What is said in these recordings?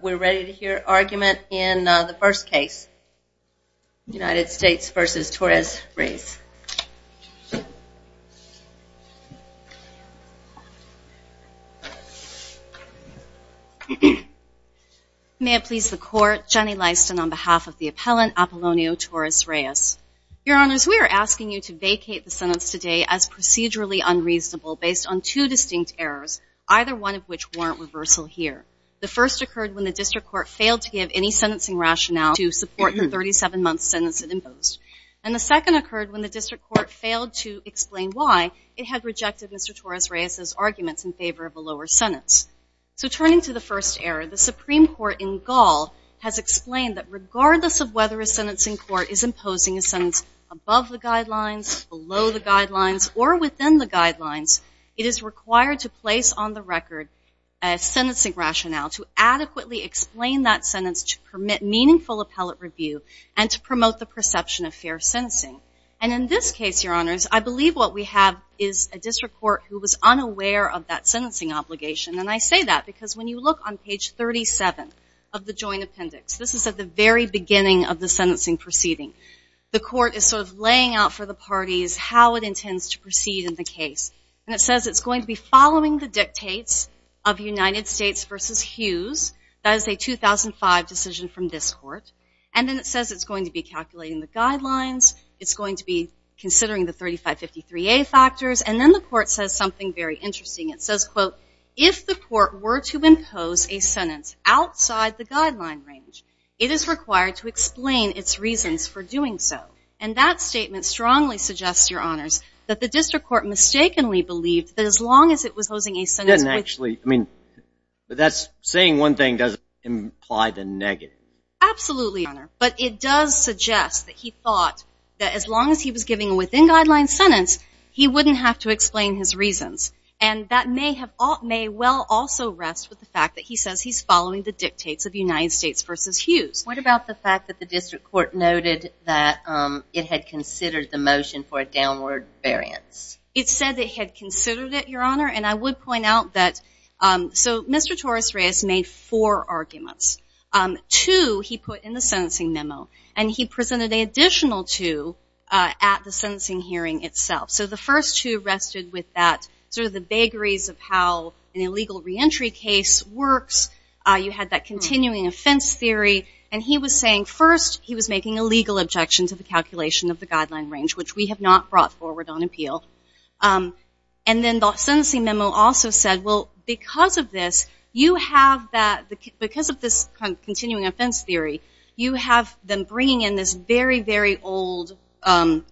We're ready to hear argument in the first case, United States v. Torres-Reyes. May it please the court, Jenny Lyston on behalf of the appellant Apolonio Torres-Reyes. Your honors, we are asking you to vacate the sentence today as procedurally unreasonable based on two distinct errors, either one of which warrant reversal here. The first occurred when the district court failed to give any sentencing rationale to support the 37-month sentence it imposed. And the second occurred when the district court failed to explain why it had rejected Mr. Torres-Reyes' arguments in favor of a lower sentence. So turning to the first error, the Supreme Court in Gall has explained that regardless of whether a sentencing court is imposing a sentence above the guidelines, below the guidelines, or within the guidelines, it is required to place on the record a sentencing rationale to adequately explain that sentence to permit meaningful appellate review and to promote the perception of fair sentencing. And in this case, your honors, I believe what we have is a district court who was unaware of that sentencing obligation. And I say that because when you look on page 37 of the joint appendix, this is at the very beginning of the sentencing proceeding, the court is sort of laying out for the parties how it intends to proceed in the case. And it says it's going to be following the dictates of United States versus Hughes. That is a 2005 decision from this court. And then it says it's going to be calculating the guidelines. It's going to be considering the 3553A factors. And then the court says something very interesting. It says, quote, if the court were to impose a sentence outside the guideline range, it is required to explain its reasons for doing so. And that statement strongly suggests, your honors, that the district court mistakenly believed that as long as it was posing a sentence. It doesn't actually, I mean, that's saying one thing doesn't imply the negative. Absolutely, your honor. But it does suggest that he thought that as long as he was giving a within-guideline sentence, he wouldn't have to explain his reasons. And that may have, may well also rest with the fact that he says he's following the dictates of United States versus Hughes. What about the fact that the district court noted that it had considered the motion for a downward variance? It said it had considered it, your honor. And I would point out that, so Mr. Torres-Reyes made four arguments. Two he put in the sentencing memo. And he presented an additional two at the sentencing hearing itself. So the first two rested with that, sort of the vagaries of how an illegal reentry case works. You had that continuing offense theory. And he was saying first, he was making a legal objection to the calculation of the guideline range, which we have not brought forward on appeal. And then the sentencing memo also said, well, because of this, you have that, because of this continuing offense theory, you have them bringing in this very, very old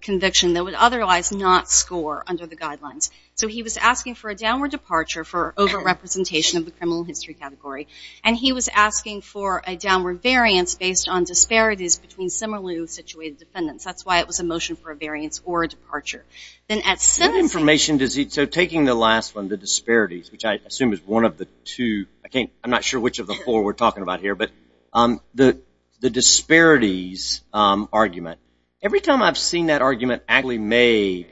conviction that would otherwise not score under the guidelines. So he was asking for a downward departure for over-representation of the criminal history category. And he was asking for a downward variance based on disparities between similarly situated defendants. That's why it was a motion for a variance or a departure. Then at sentencing. So taking the last one, the disparities, which I assume is one of the two, I'm not sure which of the four we're talking about here, but the disparities argument. Every time I've seen that argument actually made,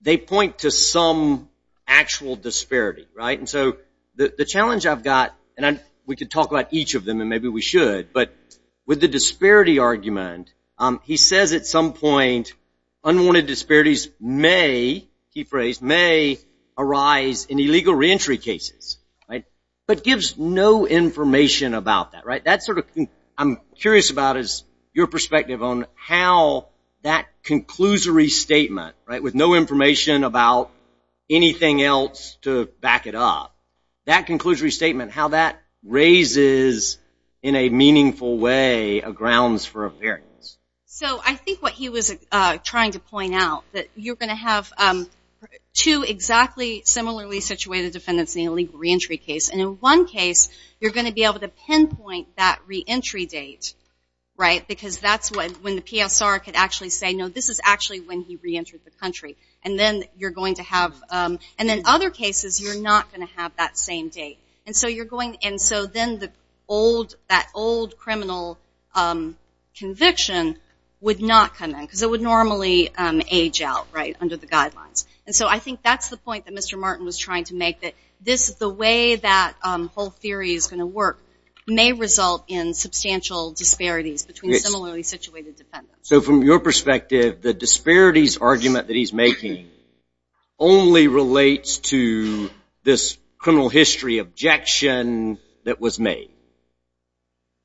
they point to some actual disparity, right? And so the challenge I've got, and we could talk about each of them and maybe we should, but with the disparity argument, he says at some point unwanted disparities may, key phrase, may arise in illegal reentry cases, right? But gives no information about that, right? That's sort of, I'm curious about is your perspective on how that conclusory statement, right, with no information about anything else to back it up, that conclusory statement, how that raises in a meaningful way a grounds for a variance. So I think what he was trying to point out, that you're going to have two exactly similarly situated defendants in an illegal reentry case. And in one case, you're going to be able to pinpoint that reentry date, right? Because that's when the PSR could actually say, no, this is actually when he reentered the country. And then you're going to have, and in other cases, you're not going to have that same date. And so you're going, and so then the old, that old criminal conviction would not come in, because it would normally age out, right, under the guidelines. And so I think that's the point that Mr. Martin was trying to make, that this, the way that whole theory is going to work may result in substantial disparities between similarly situated defendants. So from your perspective, the disparities argument that he's making only relates to this criminal history objection that was made.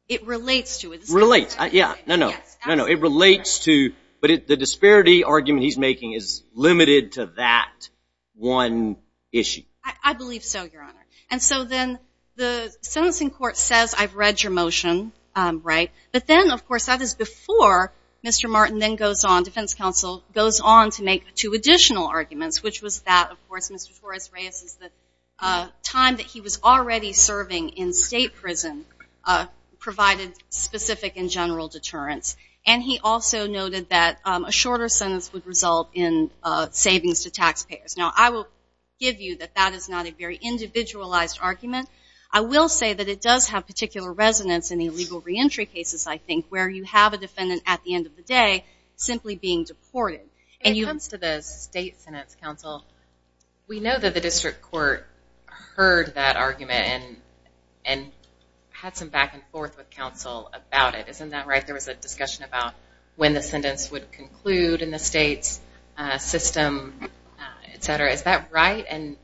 It relates to it. Relates, yeah, no, no, no, no. It relates to, but the disparity argument he's making is limited to that one issue. I believe so, Your Honor. And so then the sentencing court says, I've read your motion, right? But then, of course, that is before Mr. Martin then goes on, Defense Counsel goes on to make two additional arguments, which was that, of course, Mr. Torres-Reyes' time that he was already serving in state prison provided specific and general deterrence. And he also noted that a shorter sentence would result in savings to taxpayers. Now, I will give you that that is not a very individualized argument. I will say that it does have particular resonance in the illegal reentry cases, I think, where you have a defendant at the end of the day simply being deported. And you- When it comes to the state sentence, Counsel, we know that the district court heard that argument and had some back and forth with Counsel about it, isn't that right? There was a discussion about when the sentence would conclude in the state's system, etc. Is that right? And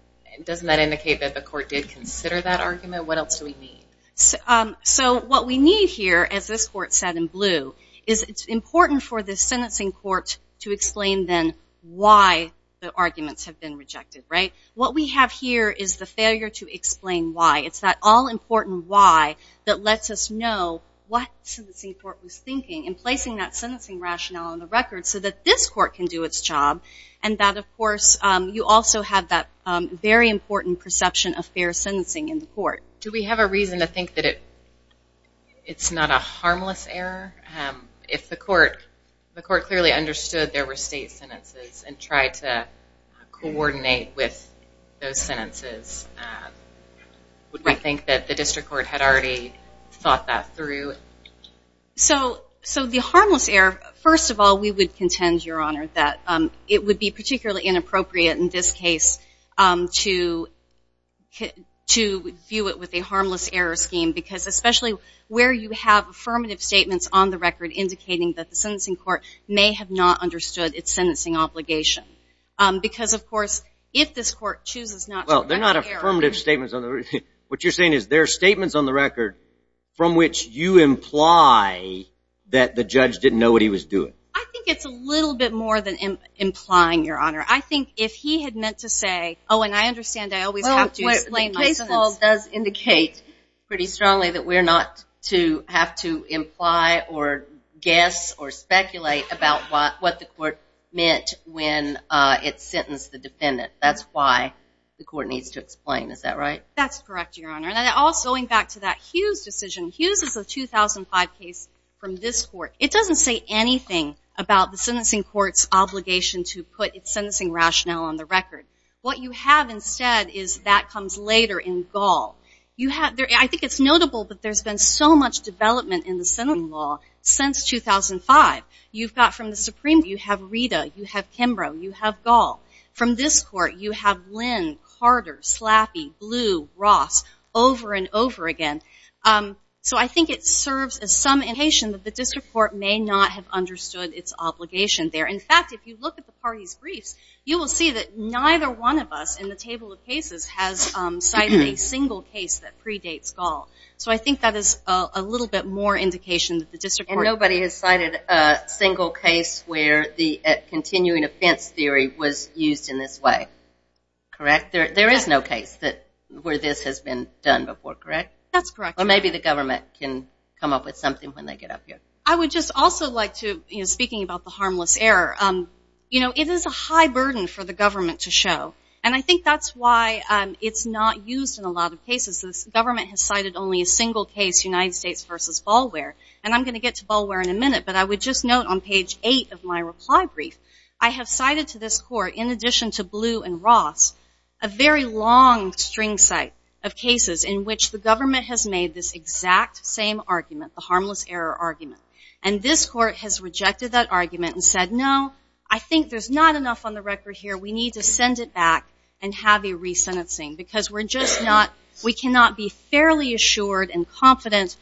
doesn't that indicate that the court did consider that argument? What else do we need? So what we need here, as this court said in blue, is it's important for the sentencing court to explain then why the arguments have been rejected, right? What we have here is the failure to explain why. It's that all-important why that lets us know what sentencing court was thinking in placing that sentencing rationale on the record so that this court can do its job. And that, of course, you also have that very important perception of fair sentencing in the court. Do we have a reason to think that it's not a harmless error? If the court clearly understood there were state sentences and tried to coordinate with those sentences, would we think that the district court had already thought that through? So the harmless error, first of all, we would contend, Your Honor, that it would be particularly inappropriate in this case to view it with a harmless error scheme because especially where you have affirmative statements on the record indicating that the sentencing court may have not understood its sentencing obligation. Because, of course, if this court chooses not to correct the error. Well, they're not affirmative statements on the record. What you're saying is there are statements on the record from which you imply that the judge didn't know what he was doing. I think it's a little bit more than implying, Your Honor. I think if he had meant to say, oh, and I understand I always have to explain my sentence. Well, the case law does indicate pretty strongly that we're not to have to imply or guess or speculate about what the court meant when it sentenced the defendant. That's why the court needs to explain. Is that right? That's correct, Your Honor. And also, going back to that Hughes decision, Hughes is a 2005 case from this court. It doesn't say anything about the sentencing court's obligation to put its sentencing rationale on the record. What you have instead is that comes later in Gall. You have, I think it's notable that there's been so much development in the sentencing law since 2005. You've got from the Supreme Court, you have Rita, you have Kimbrough, you have Gall. From this court, you have Lynn, Carter, Slappy, Blue, Ross, over and over again. So I think it serves as some indication that the district court may not have understood its obligation there. In fact, if you look at the parties' briefs, you will see that neither one of us in the table of cases has cited a single case that predates Gall. So I think that is a little bit more indication that the district court. And nobody has cited a single case where the continuing offense theory was used in this way. Correct? There is no case where this has been done before, correct? That's correct. Or maybe the government can come up with something when they get up here. I would just also like to, you know, speaking about the harmless error, you know, it is a high burden for the government to show. And I think that's why it's not used in a lot of cases. The government has cited only a single case, United States versus Bulware. And I'm going to get to Bulware in a minute. But I would just note on page 8 of my reply brief, I have cited to this court in addition to Blue and Ross, a very long string site of cases in which the government has made this exact same argument, the harmless error argument. And this court has rejected that argument and said, no, I think there's not enough on the record here. We need to send it back and have a re-sentencing. Because we're just not, we cannot be fairly assured and confident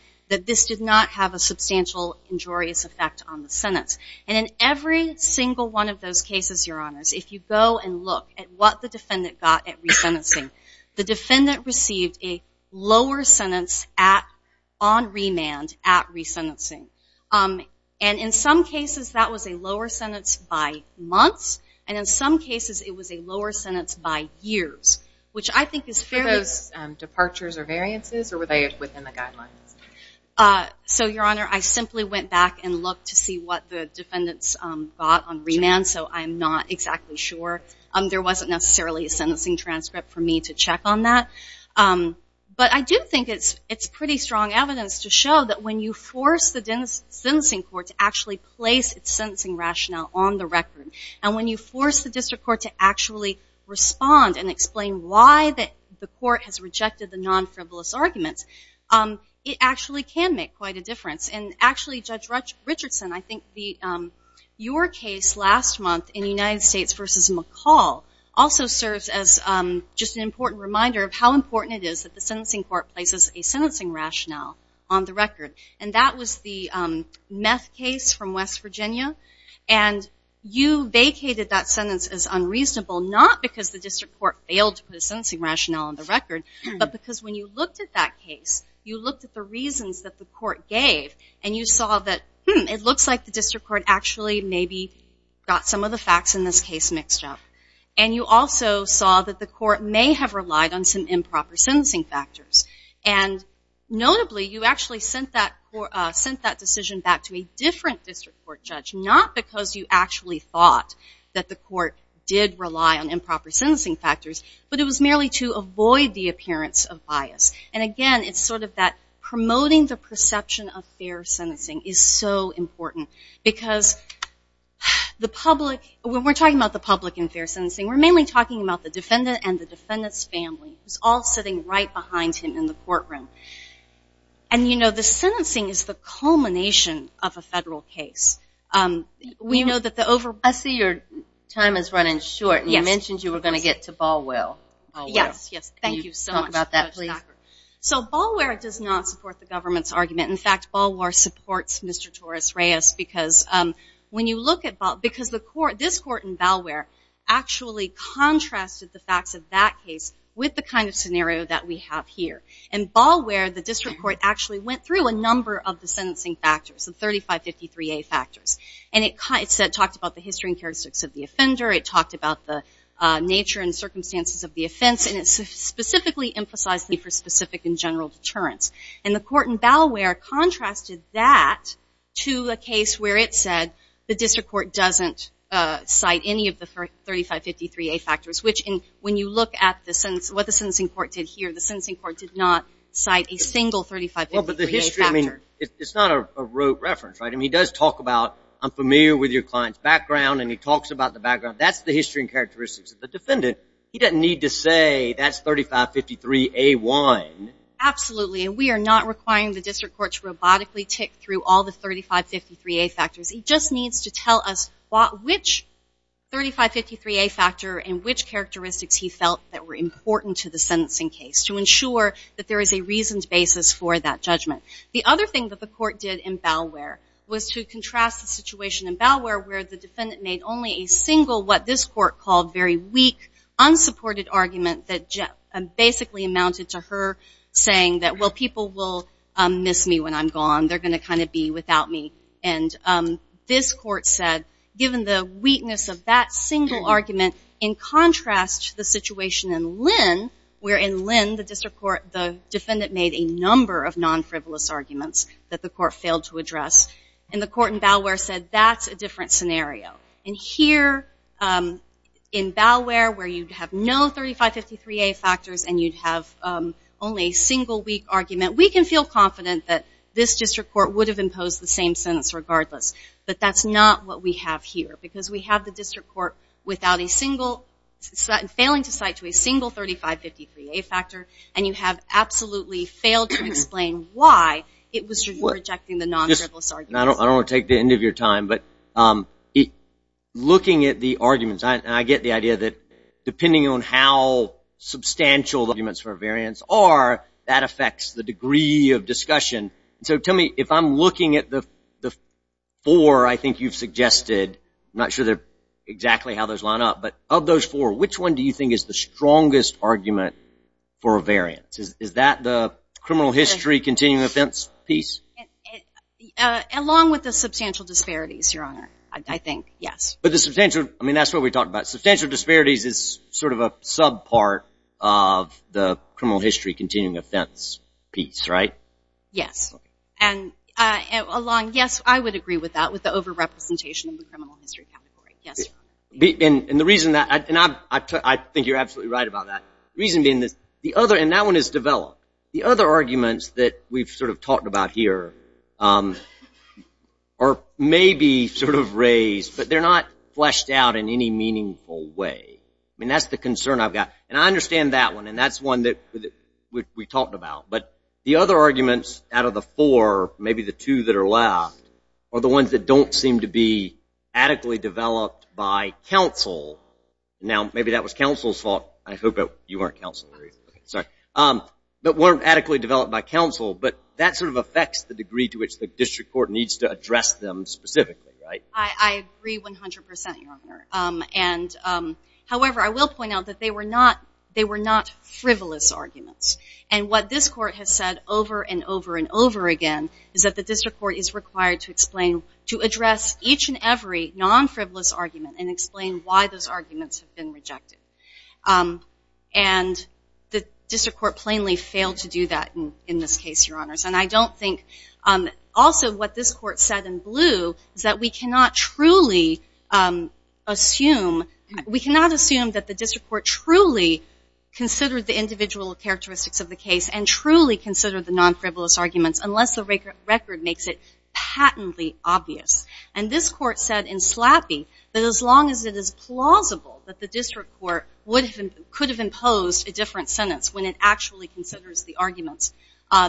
And in every single one of those cases, Your Honors, if you go and look at what the defendant got at re-sentencing, the defendant received a lower sentence on remand at re-sentencing. And in some cases, that was a lower sentence by months. And in some cases, it was a lower sentence by years. Which I think is fairly. Were those departures or variances or were they within the guidelines? So, Your Honor, I simply went back and looked to see what the defendants got on remand. So I'm not exactly sure. There wasn't necessarily a sentencing transcript for me to check on that. But I do think it's pretty strong evidence to show that when you force the sentencing court to actually place its sentencing rationale on the record, and when you force the district court to actually respond and explain why the court has rejected the non-frivolous arguments, it actually can make quite a difference. And actually, Judge Richardson, I think your case last month in United States versus McCall also serves as just an important reminder of how important it is that the sentencing court places a sentencing rationale on the record. And that was the meth case from West Virginia. And you vacated that sentence as unreasonable not because the district court failed to put a sentencing rationale on the record, but because when you looked at that case, you looked at the reasons that the court gave, and you saw that, hmm, it looks like the district court actually maybe got some of the facts in this case mixed up. And you also saw that the court may have relied on some improper sentencing factors. And notably, you actually sent that decision back to a different district court judge, not because you actually thought that the court did rely on improper sentencing factors, but it was merely to avoid the appearance of bias. And again, it's sort of that promoting the perception of fair sentencing is so important. Because the public, when we're talking about the public in fair sentencing, we're mainly talking about the defendant and the defendant's family, who's all sitting right behind him in the courtroom. And, you know, the sentencing is the culmination of a federal case. We know that the over... I see your time is running short, and you mentioned you were going to get to Balwell. Yes, yes. Thank you so much. Can you talk about that, please? So, Balwell does not support the government's argument. In fact, Balwell supports Mr. Torres-Reyes because when you look at... because this court in Balwell actually contrasted the facts of that case with the kind of scenario that we have here. And Balwell, the district court actually went through a number of the sentencing factors, the 3553A factors. And it talked about the history and characteristics of the offender. It talked about the nature and circumstances of the offense. And it specifically emphasized the specific and general deterrence. And the court in Balwell contrasted that to a case where it said the district court doesn't cite any of the 3553A factors, which when you look at what the sentencing court did here, the sentencing court did not cite a single 3553A factor. It's not a rote reference, right? And he does talk about, I'm familiar with your client's background, and he talks about the background. That's the history and characteristics of the defendant. He doesn't need to say that's 3553A1. Absolutely, and we are not requiring the district court to robotically tick through all the 3553A factors. He just needs to tell us which 3553A factor and which characteristics he felt that were important to the sentencing case to ensure that there is a reasoned basis for that judgment. The other thing that the court did in Balwell was to contrast the situation in Balwell where the defendant made only a single, what this court called very weak, unsupported argument that basically amounted to her saying that, well, people will miss me when I'm gone. They're going to kind of be without me. And this court said, given the weakness of that single argument, in contrast to the situation in Lynn, where in Lynn, the district court, the defendant made a number of non-frivolous arguments that the court failed to address. And the court in Balwell said, that's a different scenario. And here in Balwell, where you'd have no 3553A factors and you'd have only a single weak argument, we can feel confident that this district court would have imposed the same sentence regardless. But that's not what we have here because we have the district court without a single, failing to cite to a single 3553A factor, and you have absolutely failed to explain why it was rejecting the non-frivolous arguments. I don't want to take the end of your time, but looking at the arguments, I get the idea that depending on how substantial the arguments for variance are, that affects the degree of discussion. So tell me, if I'm looking at the four I think you've suggested, not sure exactly how those line up, but of those four, which one do you think is the strongest argument for a variance? Is that the criminal history continuing offense piece? Along with the substantial disparities, Your Honor, I think, yes. But the substantial, I mean, that's what we talked about. Substantial disparities is sort of a sub-part of the criminal history continuing offense piece, right? Yes, and along, yes, I would agree with that, with the over-representation in the criminal history category, yes. And the reason that, and I think you're absolutely right about that. Reason being this, the other, and that one is developed. The other arguments that we've sort of talked about here are maybe sort of raised, but they're not fleshed out in any meaningful way. I mean, that's the concern I've got. And I understand that one, and that's one that we talked about. But the other arguments out of the four, maybe the two that are left, are the ones that don't seem to be adequately developed by counsel. Now, maybe that was counsel's fault. I hope that you weren't counsel. Sorry. But weren't adequately developed by counsel. But that sort of affects the degree to which the district court needs to address them specifically, right? I agree 100%, Your Honor. And however, I will point out that they were not, they were not frivolous arguments. And what this court has said over and over and over again is that the district court is required to explain, to address each and every non-frivolous argument and explain why those arguments have been rejected. And the district court plainly failed to do that in this case, Your Honors. And I don't think, also what this court said in blue is that we cannot truly assume, we cannot assume that the district court truly considered the individual characteristics of the case and truly considered the non-frivolous arguments unless the record makes it patently obvious. And this court said in slappy that as long as it is plausible that the district court could have imposed a different sentence when it actually considers the arguments,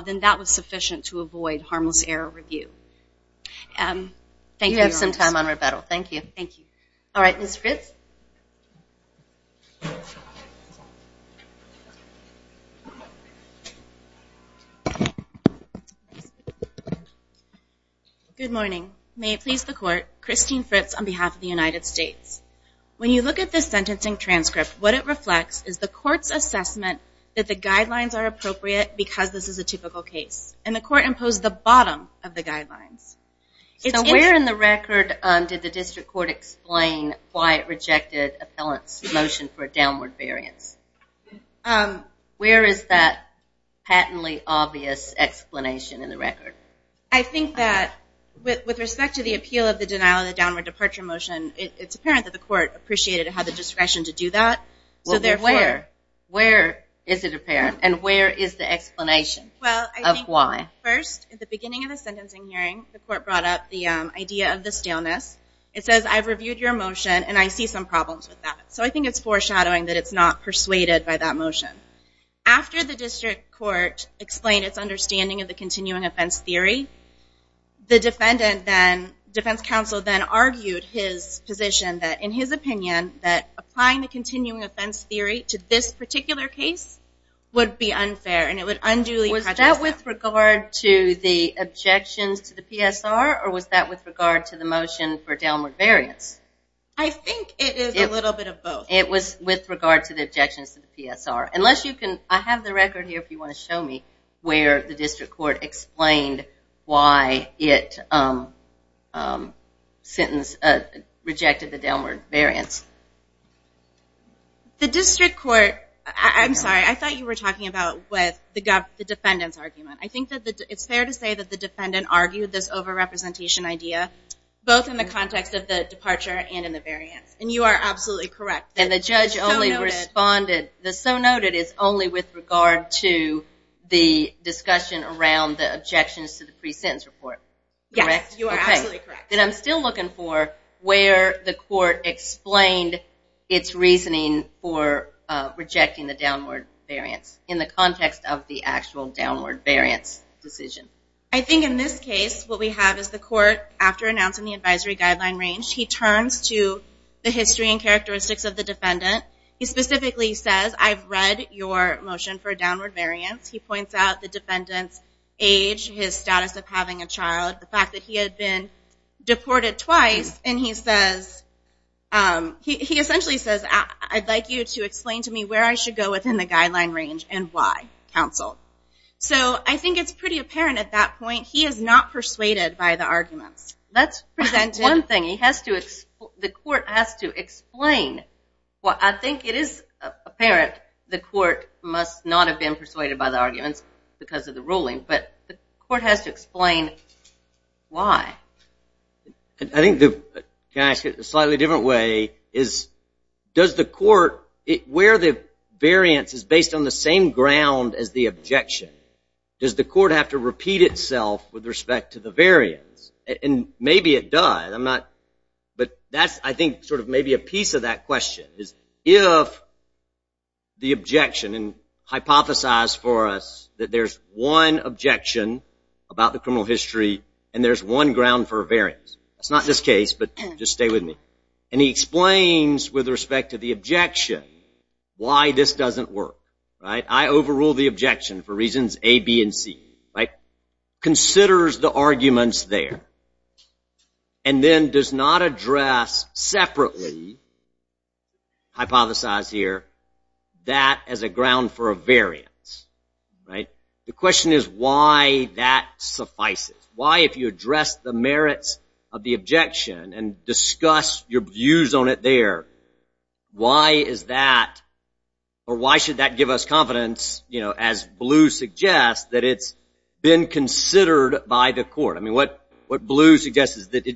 then that was sufficient to avoid harmless error review. Thank you, Your Honors. You have some time on rebuttal, thank you. Thank you. All right, Ms. Fritz. Thank you. Good morning. May it please the court, Christine Fritz on behalf of the United States. When you look at this sentencing transcript, what it reflects is the court's assessment that the guidelines are appropriate because this is a typical case. And the court imposed the bottom of the guidelines. So where in the record did the district court explain why it rejected appellant's motion for a downward variance? Where is that patently obvious explanation in the record? I think that with respect to the appeal of the denial of the downward departure motion, it's apparent that the court appreciated it had the discretion to do that. Well, where? Where is it apparent? And where is the explanation of why? First, at the beginning of the sentencing hearing, the court brought up the idea of the staleness. It says, I've reviewed your motion and I see some problems with that. So I think it's foreshadowing that it's not persuaded by that motion. After the district court explained its understanding of the continuing offense theory, the defendant then, defense counsel then argued his position that, in his opinion, that applying the continuing offense theory to this particular case would be unfair and it would unduly prejudice the court. Was that with regard to the objections to the PSR or was that with regard to the motion for downward variance? I think it is a little bit of both. It was with regard to the objections to the PSR. Unless you can, I have the record here if you want to show me where the district court explained why it rejected the downward variance. The district court, I'm sorry, I thought you were talking about with the defendant's argument. I think that it's fair to say that the defendant argued this over-representation idea, both in the context of the departure and in the variance. And you are absolutely correct. And the judge only responded, the so noted is only with regard to the discussion around the objections to the pre-sentence report. Yes, you are absolutely correct. And I'm still looking for where the court explained its reasoning for rejecting the downward variance in the context of the actual downward variance decision. I think in this case, what we have is the court, after announcing the advisory guideline range, he turns to the history and characteristics of the defendant. He specifically says, I've read your motion for downward variance. He points out the defendant's age, his status of having a child, the fact that he had been deported twice. And he says, he essentially says, I'd like you to explain to me where I should go within the guideline range and why, counsel. So I think it's pretty apparent at that point, he is not persuaded by the arguments. That's one thing he has to, the court has to explain. Well, I think it is apparent, the court must not have been persuaded by the arguments because of the ruling, but the court has to explain why. I think the, can I ask it a slightly different way, is does the court, where the variance is based on the same ground as the objection, does the court have to repeat itself with respect to the variance? And maybe it does, I'm not, but that's, I think, sort of maybe a piece of that question is if the objection, and hypothesize for us that there's one objection about the criminal history and there's one ground for a variance. It's not this case, but just stay with me. And he explains with respect to the objection why this doesn't work, right? I overrule the objection for reasons A, B, and C, right? Considers the arguments there and then does not address separately, hypothesize here, that as a ground for a variance, right? The question is why that suffices? Why, if you address the merits of the objection and discuss your views on it there, why is that, or why should that give us confidence as Blue suggests, that it's been considered by the court? I mean, what Blue suggests is that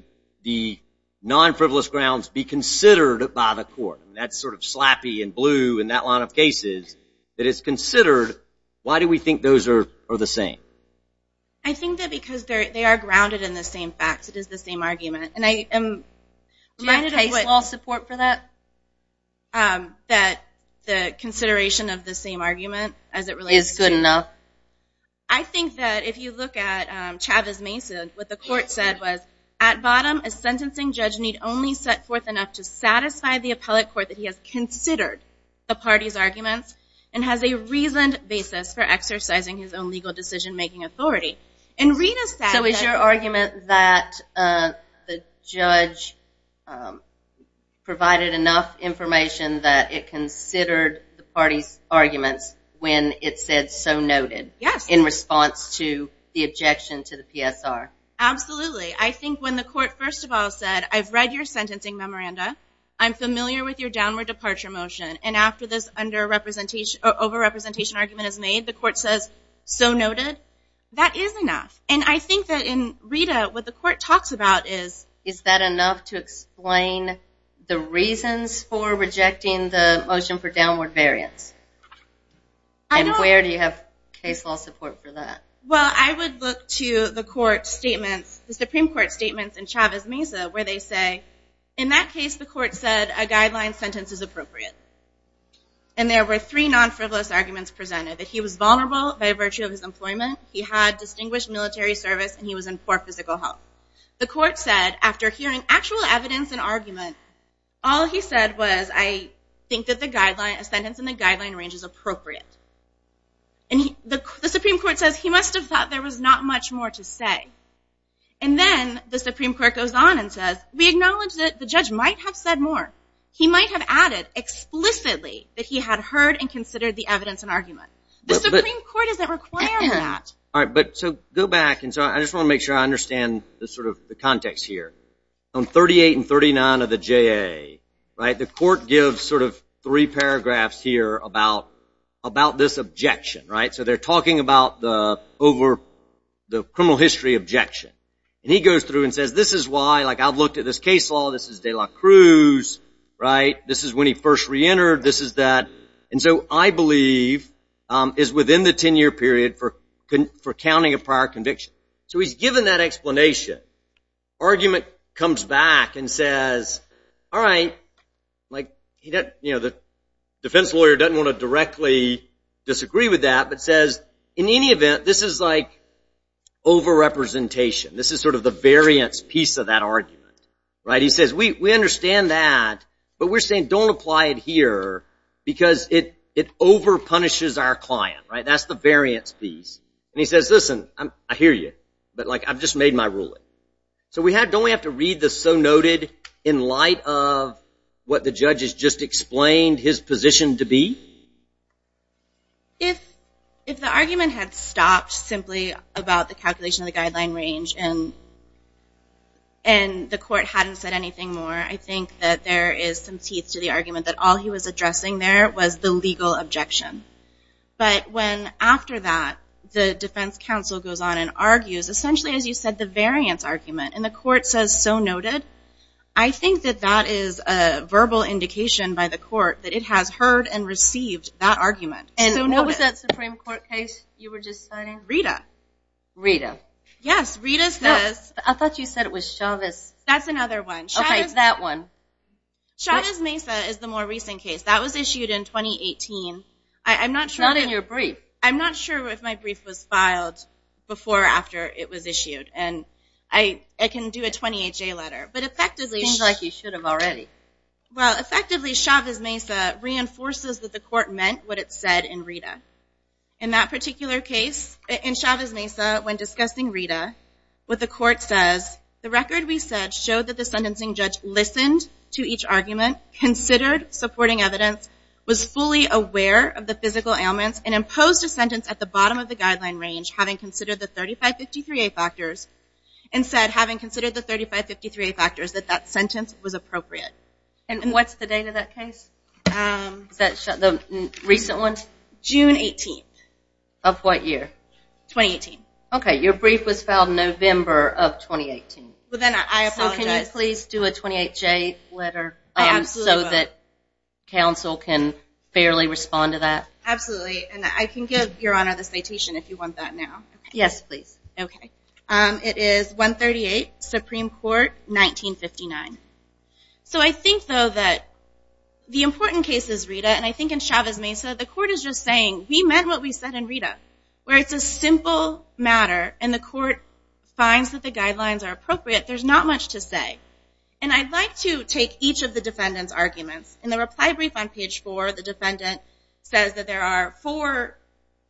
the non-frivolous grounds be considered by the court. That's sort of slappy and blue in that line of cases, that it's considered. Why do we think those are the same? I think that because they are grounded in the same facts. It is the same argument. And I am reminded of what- Do you have case law support for that? That the consideration of the same argument as it relates to- Is good enough? I think that if you look at Chavez-Mason, what the court said was, at bottom, a sentencing judge need only set forth enough to satisfy the appellate court that he has considered the party's arguments and has a reasoned basis for exercising his own legal decision-making authority. And Rita said that- The judge provided enough information that it considered the party's arguments when it said, so noted. Yes. In response to the objection to the PSR. Absolutely. I think when the court, first of all, said, I've read your sentencing memoranda. I'm familiar with your downward departure motion. And after this over-representation argument is made, the court says, so noted. That is enough. And I think that in Rita, what the court talks about is- Is that enough to explain the reasons for rejecting the motion for downward variance? I don't- And where do you have case law support for that? Well, I would look to the court statements, the Supreme Court statements in Chavez-Mason, where they say, in that case, the court said a guideline sentence is appropriate. And there were three non-frivolous arguments presented. That he was vulnerable by virtue of his employment. He had distinguished military service and he was in poor physical health. The court said, after hearing actual evidence and argument, all he said was, I think that the guideline, a sentence in the guideline range is appropriate. And the Supreme Court says, he must have thought there was not much more to say. And then the Supreme Court goes on and says, we acknowledge that the judge might have said more. He might have added explicitly that he had heard and considered the evidence and argument. The Supreme Court doesn't require that. All right, but so go back. And so I just wanna make sure I understand the sort of the context here. On 38 and 39 of the JA, right? The court gives sort of three paragraphs here about this objection, right? So they're talking about the over, the criminal history objection. And he goes through and says, this is why, like I've looked at this case law, this is De La Cruz, right? This is when he first reentered, this is that. And so I believe is within the 10 year period for counting a prior conviction. So he's given that explanation. Argument comes back and says, all right, like, you know, the defense lawyer doesn't wanna directly disagree with that, but says, in any event, this is like over-representation. This is sort of the variance piece of that argument, right? He says, we understand that, but we're saying don't apply it here because it over-punishes our client, right? And he says, listen, I hear you, but like, I've just made my ruling. So don't we have to read this so noted in light of what the judge has just explained his position to be? If the argument had stopped simply about the calculation of the guideline range and the court hadn't said anything more, I think that there is some teeth to the argument that all he was addressing there was the legal objection. But when, after that, the defense counsel goes on and argues, essentially, as you said, the variance argument, and the court says so noted, I think that that is a verbal indication by the court that it has heard and received that argument. And so noted. What was that Supreme Court case you were just citing? Rita. Rita. Yes, Rita says. No, I thought you said it was Chavez. That's another one. Chavez. Okay, it's that one. Chavez Mesa is the more recent case. That was issued in 2018. I'm not sure. Not in your brief. I'm not sure if my brief was filed before or after it was issued. And I can do a 28-J letter. But effectively. Seems like you should have already. Well, effectively, Chavez Mesa reinforces that the court meant what it said in Rita. In that particular case, in Chavez Mesa, when discussing Rita, what the court says, the record we said showed that the sentencing judge listened to each argument, considered supporting evidence, was fully aware of the physical ailments, and imposed a sentence at the bottom of the guideline range, having considered the 3553A factors, and said, having considered the 3553A factors, that that sentence was appropriate. And what's the date of that case? Is that the recent one? June 18th. Of what year? 2018. Okay, your brief was filed November of 2018. Well then, I apologize. Well, can you please do a 28-J letter? I absolutely will. So that counsel can fairly respond to that? Absolutely, and I can give your honor the citation if you want that now. Yes, please. Okay. It is 138, Supreme Court, 1959. So I think, though, that the important case is Rita, and I think in Chavez Mesa, the court is just saying, we meant what we said in Rita. Where it's a simple matter, and the court finds that the guidelines are appropriate, there's not much to say. And I'd like to take each of the defendant's arguments. In the reply brief on page four, the defendant says that there are four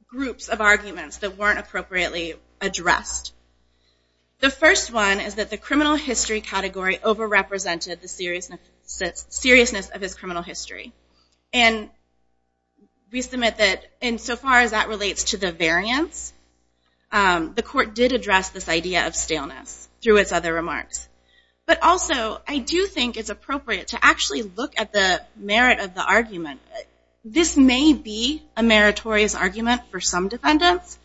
groups of arguments that weren't appropriately addressed. The first one is that the criminal history category overrepresented the seriousness of his criminal history. And we submit that, insofar as that relates to the variance, the court did address this idea of staleness through its other remarks. But also, I do think it's appropriate to actually look at the merit of the argument. This may be a meritorious argument for some defendants,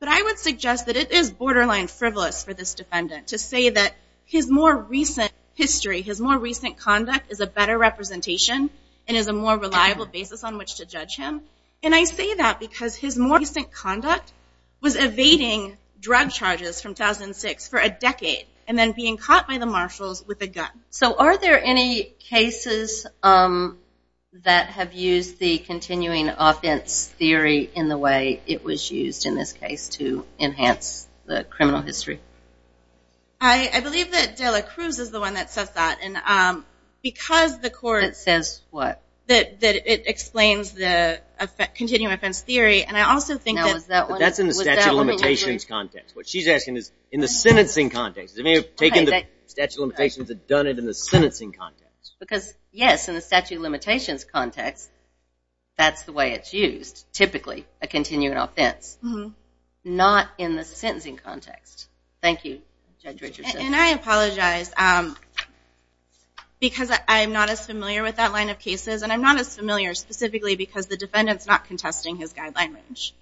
but I would suggest that it is borderline frivolous for this defendant to say that his more recent history, his more recent conduct is a better representation, and is a more reliable basis on which to judge him. And I say that because his more recent conduct was evading drug charges from 2006 for a decade, and then being caught by the marshals with a gun. So are there any cases that have used the continuing offense theory in the way it was used in this case to enhance the criminal history? I believe that Dela Cruz is the one that says that, and because the court- That says what? That it explains the continuing offense theory, and I also think that- That's in the statute of limitations context. What she's asking is in the sentencing context. Has anyone taken the statute of limitations and done it in the sentencing context? Because, yes, in the statute of limitations context, that's the way it's used, typically, a continuing offense. Not in the sentencing context. Thank you, Judge Richardson. And I apologize, because I'm not as familiar with that line of cases, and I'm not as familiar specifically because the defendant's not contesting his guideline range.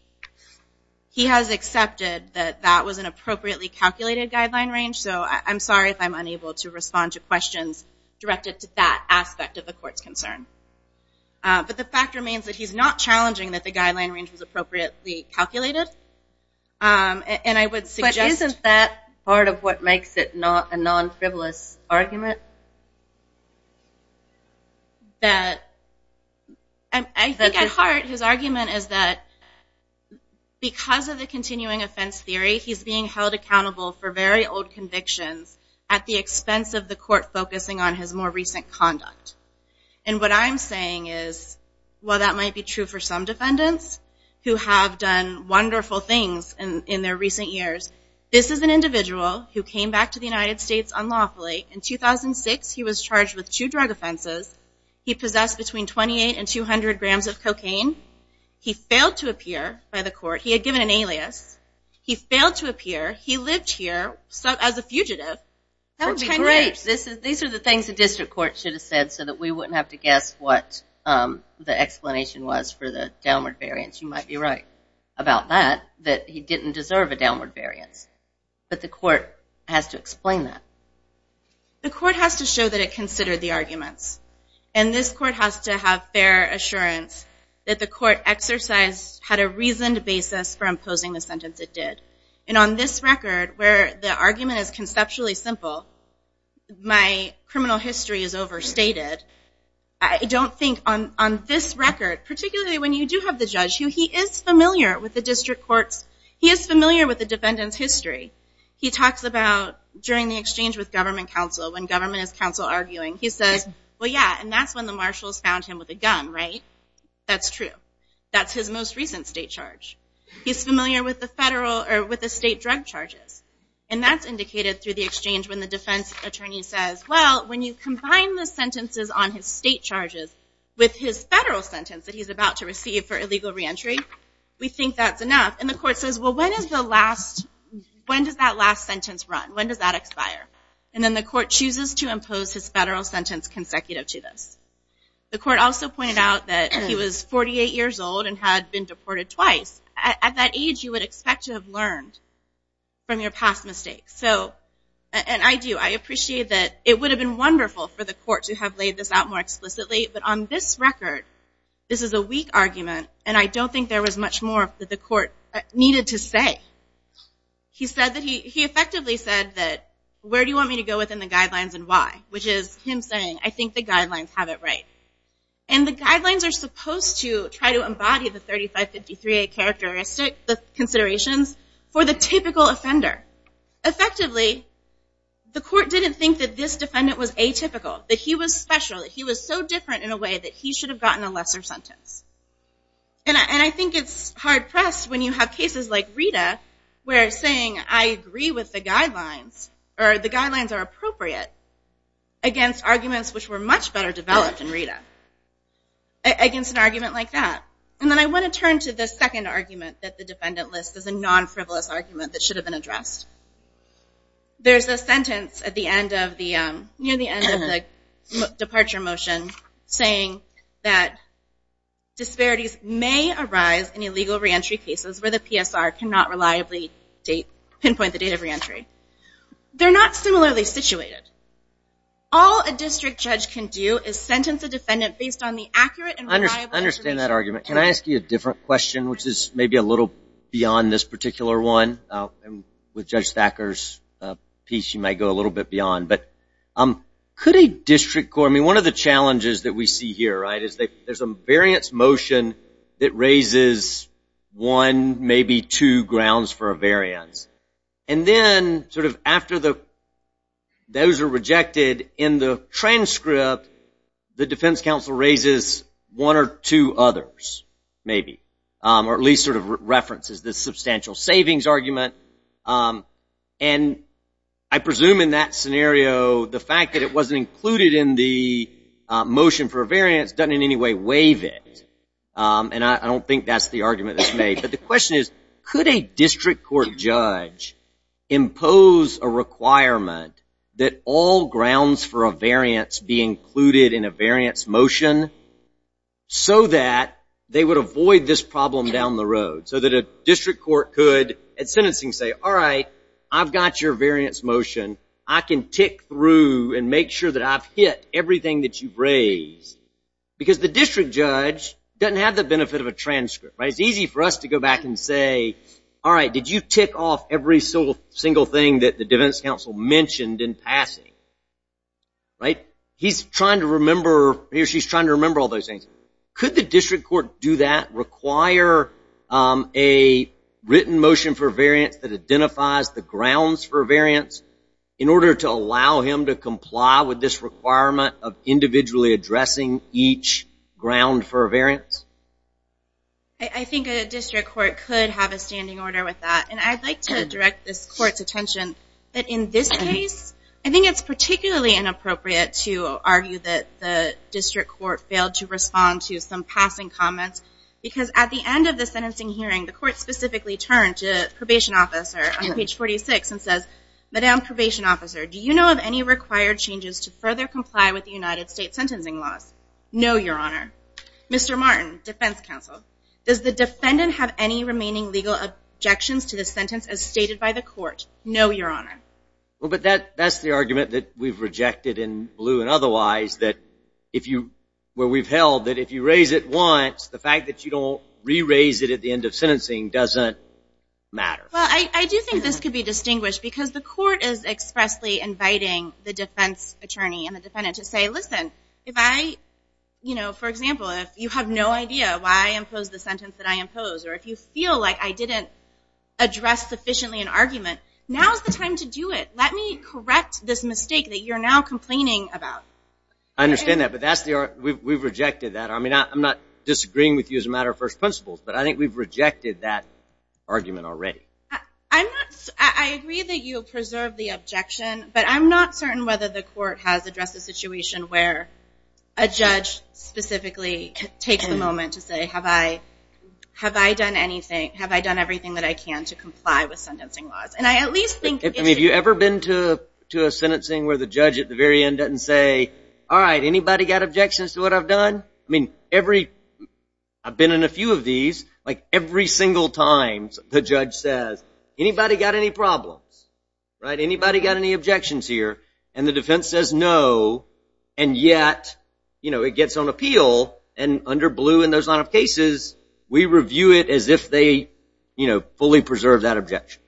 He has accepted that that was an appropriately calculated guideline range, so I'm sorry if I'm unable to respond to questions directed to that aspect of the court's concern. But the fact remains that he's not challenging that the guideline range was appropriately calculated, and I would suggest- But isn't that part of what makes it not a non-frivolous argument? That, I think at heart, his argument is that because of the continuing offense theory, he's being held accountable for very old convictions at the expense of the court focusing on his more recent conduct. And what I'm saying is, while that might be true for some defendants who have done wonderful things in their recent years, this is an individual who came back to the United States unlawfully in 2006, he was charged with two drug offenses, he possessed between 28 and 200 grams of cocaine, he failed to appear by the court, he had given an alias, he failed to appear, he lived here as a fugitive for 10 years. These are the things the district court should have said so that we wouldn't have to guess what the explanation was for the downward variance. You might be right about that, that he didn't deserve a downward variance. But the court has to explain that. The court has to show that it considered the arguments. And this court has to have fair assurance that the court exercised, had a reasoned basis for imposing the sentence it did. And on this record, where the argument is conceptually simple, my criminal history is overstated, I don't think on this record, particularly when you do have the judge, who he is familiar with the district courts, he is familiar with the defendant's history. He talks about, during the exchange with government counsel, when government is counsel arguing, he says, well yeah, and that's when the marshals found him with a gun, right? That's true. That's his most recent state charge. He's familiar with the federal, or with the state drug charges. And that's indicated through the exchange when the defense attorney says, well, when you combine the sentences on his state charges with his federal sentence that he's about to receive for illegal reentry, we think that's enough. And the court says, well, when is the last, when does that last sentence run? When does that expire? And then the court chooses to impose his federal sentence consecutive to this. The court also pointed out that he was 48 years old and had been deported twice. At that age, you would expect to have learned from your past mistakes. So, and I do, I appreciate that it would have been wonderful for the court to have laid this out more explicitly, but on this record, this is a weak argument, and I don't think there was much more that the court needed to say. He said that he, he effectively said that, where do you want me to go within the guidelines and why? Which is him saying, I think the guidelines have it right. And the guidelines are supposed to try to embody the 3553A characteristic, the considerations, for the typical offender. Effectively, the court didn't think that this defendant was atypical, that he was special, that he was so different in a way that he should have gotten a lesser sentence. And I think it's hard-pressed when you have cases like Rita, where saying, I agree with the guidelines, or the guidelines are appropriate, against arguments which were much better developed in Rita. Against an argument like that. And then I want to turn to the second argument that the defendant lists as a non-frivolous argument that should have been addressed. There's a sentence at the end of the, near the end of the departure motion, saying that disparities may arise in illegal reentry cases where the PSR cannot reliably pinpoint the date of reentry. They're not similarly situated. All a district judge can do is sentence a defendant based on the accurate and reliable information. I understand that argument. Can I ask you a different question, which is maybe a little beyond this particular one? With Judge Thacker's piece, you might go a little bit beyond. But could a district court, I mean, one of the challenges that we see here, right, is that there's a variance motion that raises one, maybe two grounds for a variance. And then sort of after those are rejected in the transcript, the defense counsel raises one or two others, maybe. Or at least sort of references this substantial savings argument. And I presume in that scenario, it doesn't in any way waive it. And I don't think that's the argument that's made. But the question is, could a district court judge impose a requirement that all grounds for a variance be included in a variance motion so that they would avoid this problem down the road? So that a district court could at sentencing say, all right, I've got your variance motion. I can tick through and make sure that I've hit everything that you've raised. Because the district judge doesn't have the benefit of a transcript, right? It's easy for us to go back and say, all right, did you tick off every single thing that the defense counsel mentioned in passing, right? He's trying to remember, he or she's trying to remember all those things. Could the district court do that, require a written motion for a variance that identifies the grounds for a variance in order to allow him to comply with this requirement of individually addressing each ground for a variance? I think a district court could have a standing order with that. And I'd like to direct this court's attention that in this case, I think it's particularly inappropriate to argue that the district court failed to respond to some passing comments. Because at the end of the sentencing hearing, the court specifically turned to probation officer on page 46 and says, Madam probation officer, do you know of any required changes to further comply with the United States sentencing laws? No, your honor. Mr. Martin, defense counsel, does the defendant have any remaining legal objections to the sentence as stated by the court? No, your honor. Well, but that's the argument that we've rejected in blue and otherwise, that if you, where we've held that if you raise it once, the fact that you don't re-raise it at the end of sentencing doesn't matter. Well, I do think this could be distinguished because the court is expressly inviting the defense attorney and the defendant to say, listen, if I, you know, for example, if you have no idea why I imposed the sentence that I imposed, or if you feel like I didn't address sufficiently an argument, now's the time to do it. Let me correct this mistake that you're now complaining about. I understand that, but that's the, we've rejected that. I mean, I'm not disagreeing with you as a matter of first principles, but I think we've rejected that argument already. I'm not, I agree that you'll preserve the objection, but I'm not certain whether the court has addressed a situation where a judge specifically takes a moment to say, have I, have I done anything? Have I done everything that I can to comply with sentencing laws? And I at least think it's true. I mean, have you ever been to a sentencing where the judge at the very end doesn't say, all right, anybody got objections to what I've done? I mean, every, I've been in a few of these, like every single time the judge says, anybody got any problems? Right, anybody got any objections here? And the defense says no, and yet, you know, it gets on appeal, and under blue in those line of cases, we review it as if they, you know, fully preserved that objection.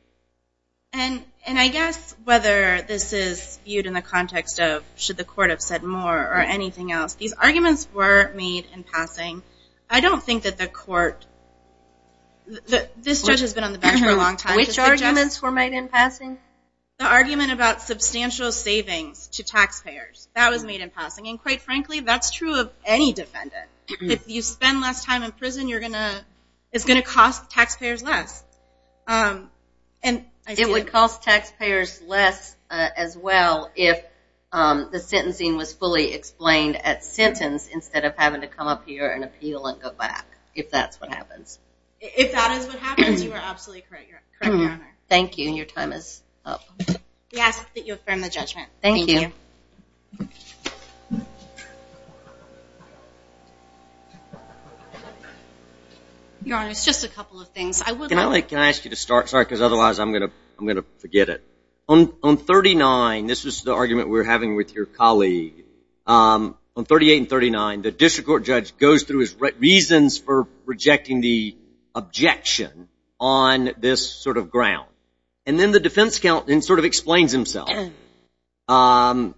And I guess whether this is viewed in the context of, should the court have said more or anything else, these arguments were made in passing. I don't think that the court, this judge has been on the bench for a long time. Which arguments were made in passing? The argument about substantial savings to taxpayers. That was made in passing, and quite frankly, that's true of any defendant. If you spend less time in prison, you're gonna, it's gonna cost taxpayers less. And I see. It would cost taxpayers less as well if the sentencing was fully explained at sentence instead of having to come up here and appeal and go back, if that's what happens. If that is what happens, you are absolutely correct, you're correct, Your Honor. Thank you, and your time is up. We ask that you affirm the judgment. Thank you. Your Honor, it's just a couple of things. I would like. Can I ask you to start? Sorry, because otherwise I'm gonna forget it. On 39, this was the argument we were having with your colleague, on 38 and 39, the district court judge goes through his reasons for rejecting the objection on this sort of ground. And then the defense counsel, and sort of explains himself. And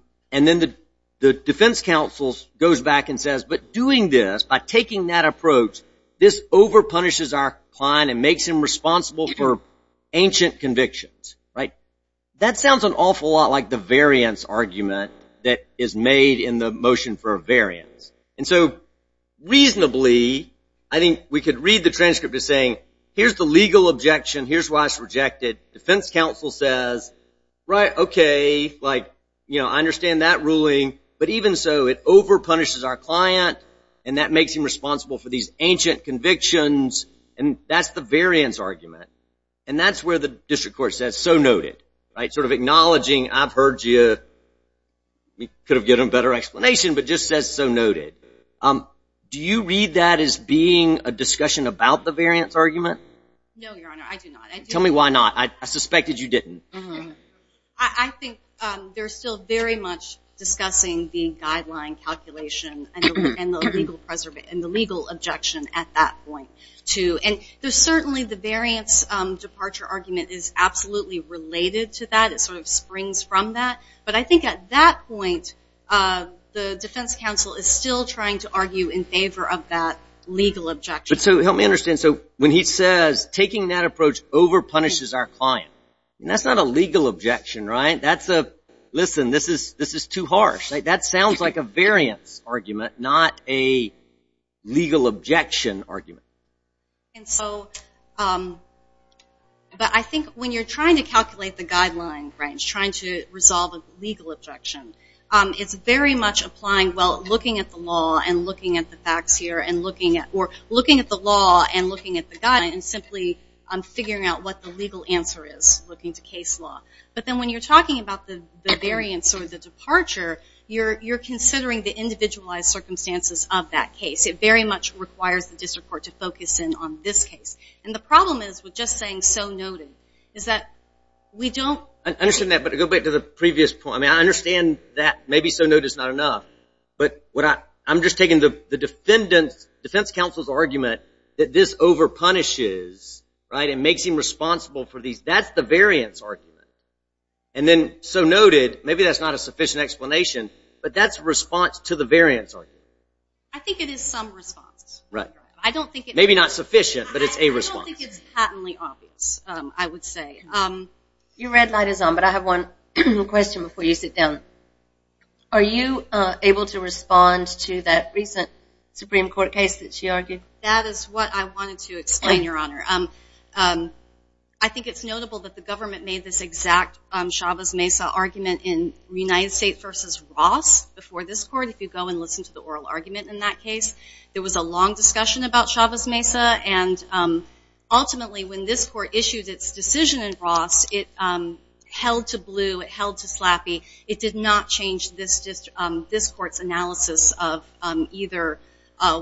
then the defense counsel goes back and says, but doing this, by taking that approach, this over-punishes our client and makes him responsible for ancient convictions, right? That sounds an awful lot like the variance argument that is made in the motion for a variance. And so, reasonably, I think we could read the transcript as saying, here's the legal objection, here's why it's rejected. Defense counsel says, right, okay, like, you know, I understand that ruling, but even so, it over-punishes our client and that makes him responsible for these ancient convictions, and that's the variance argument. And that's where the district court says, so noted, right? Sort of acknowledging, I've heard you, we could have given a better explanation, but just says, so noted. Do you read that as being a discussion about the variance argument? No, Your Honor, I do not. Tell me why not, I suspected you didn't. I think they're still very much discussing the guideline calculation and the legal objection at that point, too, and there's certainly the variance departure argument is absolutely related to that, it sort of springs from that, but I think at that point, the defense counsel is still trying to argue in favor of that legal objection. But so, help me understand, so when he says, taking that approach over-punishes our client, and that's not a legal objection, right? That's a, listen, this is too harsh, right? That sounds like a variance argument, not a legal objection argument. And so, but I think when you're trying to calculate the guideline, right, and trying to resolve a legal objection, it's very much applying, well, looking at the law and looking at the facts here, and looking at, or looking at the law and looking at the guideline and simply figuring out what the legal answer is, looking to case law. But then when you're talking about the variance or the departure, you're considering the individualized circumstances of that case. It very much requires the district court to focus in on this case. And the problem is, with just saying so noted, is that we don't. I understand that, but to go back to the previous point, I mean, I understand that maybe so noted's not enough, but what I, I'm just taking the defendant's, defense counsel's argument that this over-punishes, right, and makes him responsible for these, that's the variance argument. And then, so noted, maybe that's not a sufficient explanation, but that's response to the variance argument. I think it is some response. Right. I don't think it's. Maybe not sufficient, but it's a response. I don't think it's patently obvious, I would say. Your red light is on, but I have one question before you sit down. Are you able to respond to that recent Supreme Court case that she argued? That is what I wanted to explain, Your Honor. I think it's notable that the government made this exact Chavez-Mesa argument in United States versus Ross before this court. If you go and listen to the oral argument in that case, there was a long discussion about Chavez-Mesa, and ultimately, when this court issued its decision in Ross, it held to blue, it held to slappy. It did not change this court's analysis of either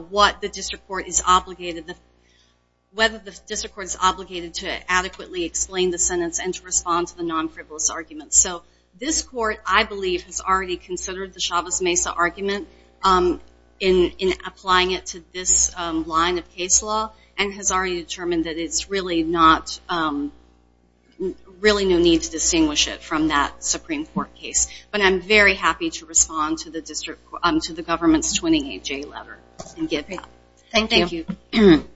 what the district court is obligated to, whether the district court is obligated to adequately explain the sentence and to respond to the non-frivolous arguments. So this court, I believe, has already considered the Chavez-Mesa argument in applying it to this line of case law, and has already determined that it's really not, really no need to distinguish it from that Supreme Court case. But I'm very happy to respond to the district, Thank you. Thank you.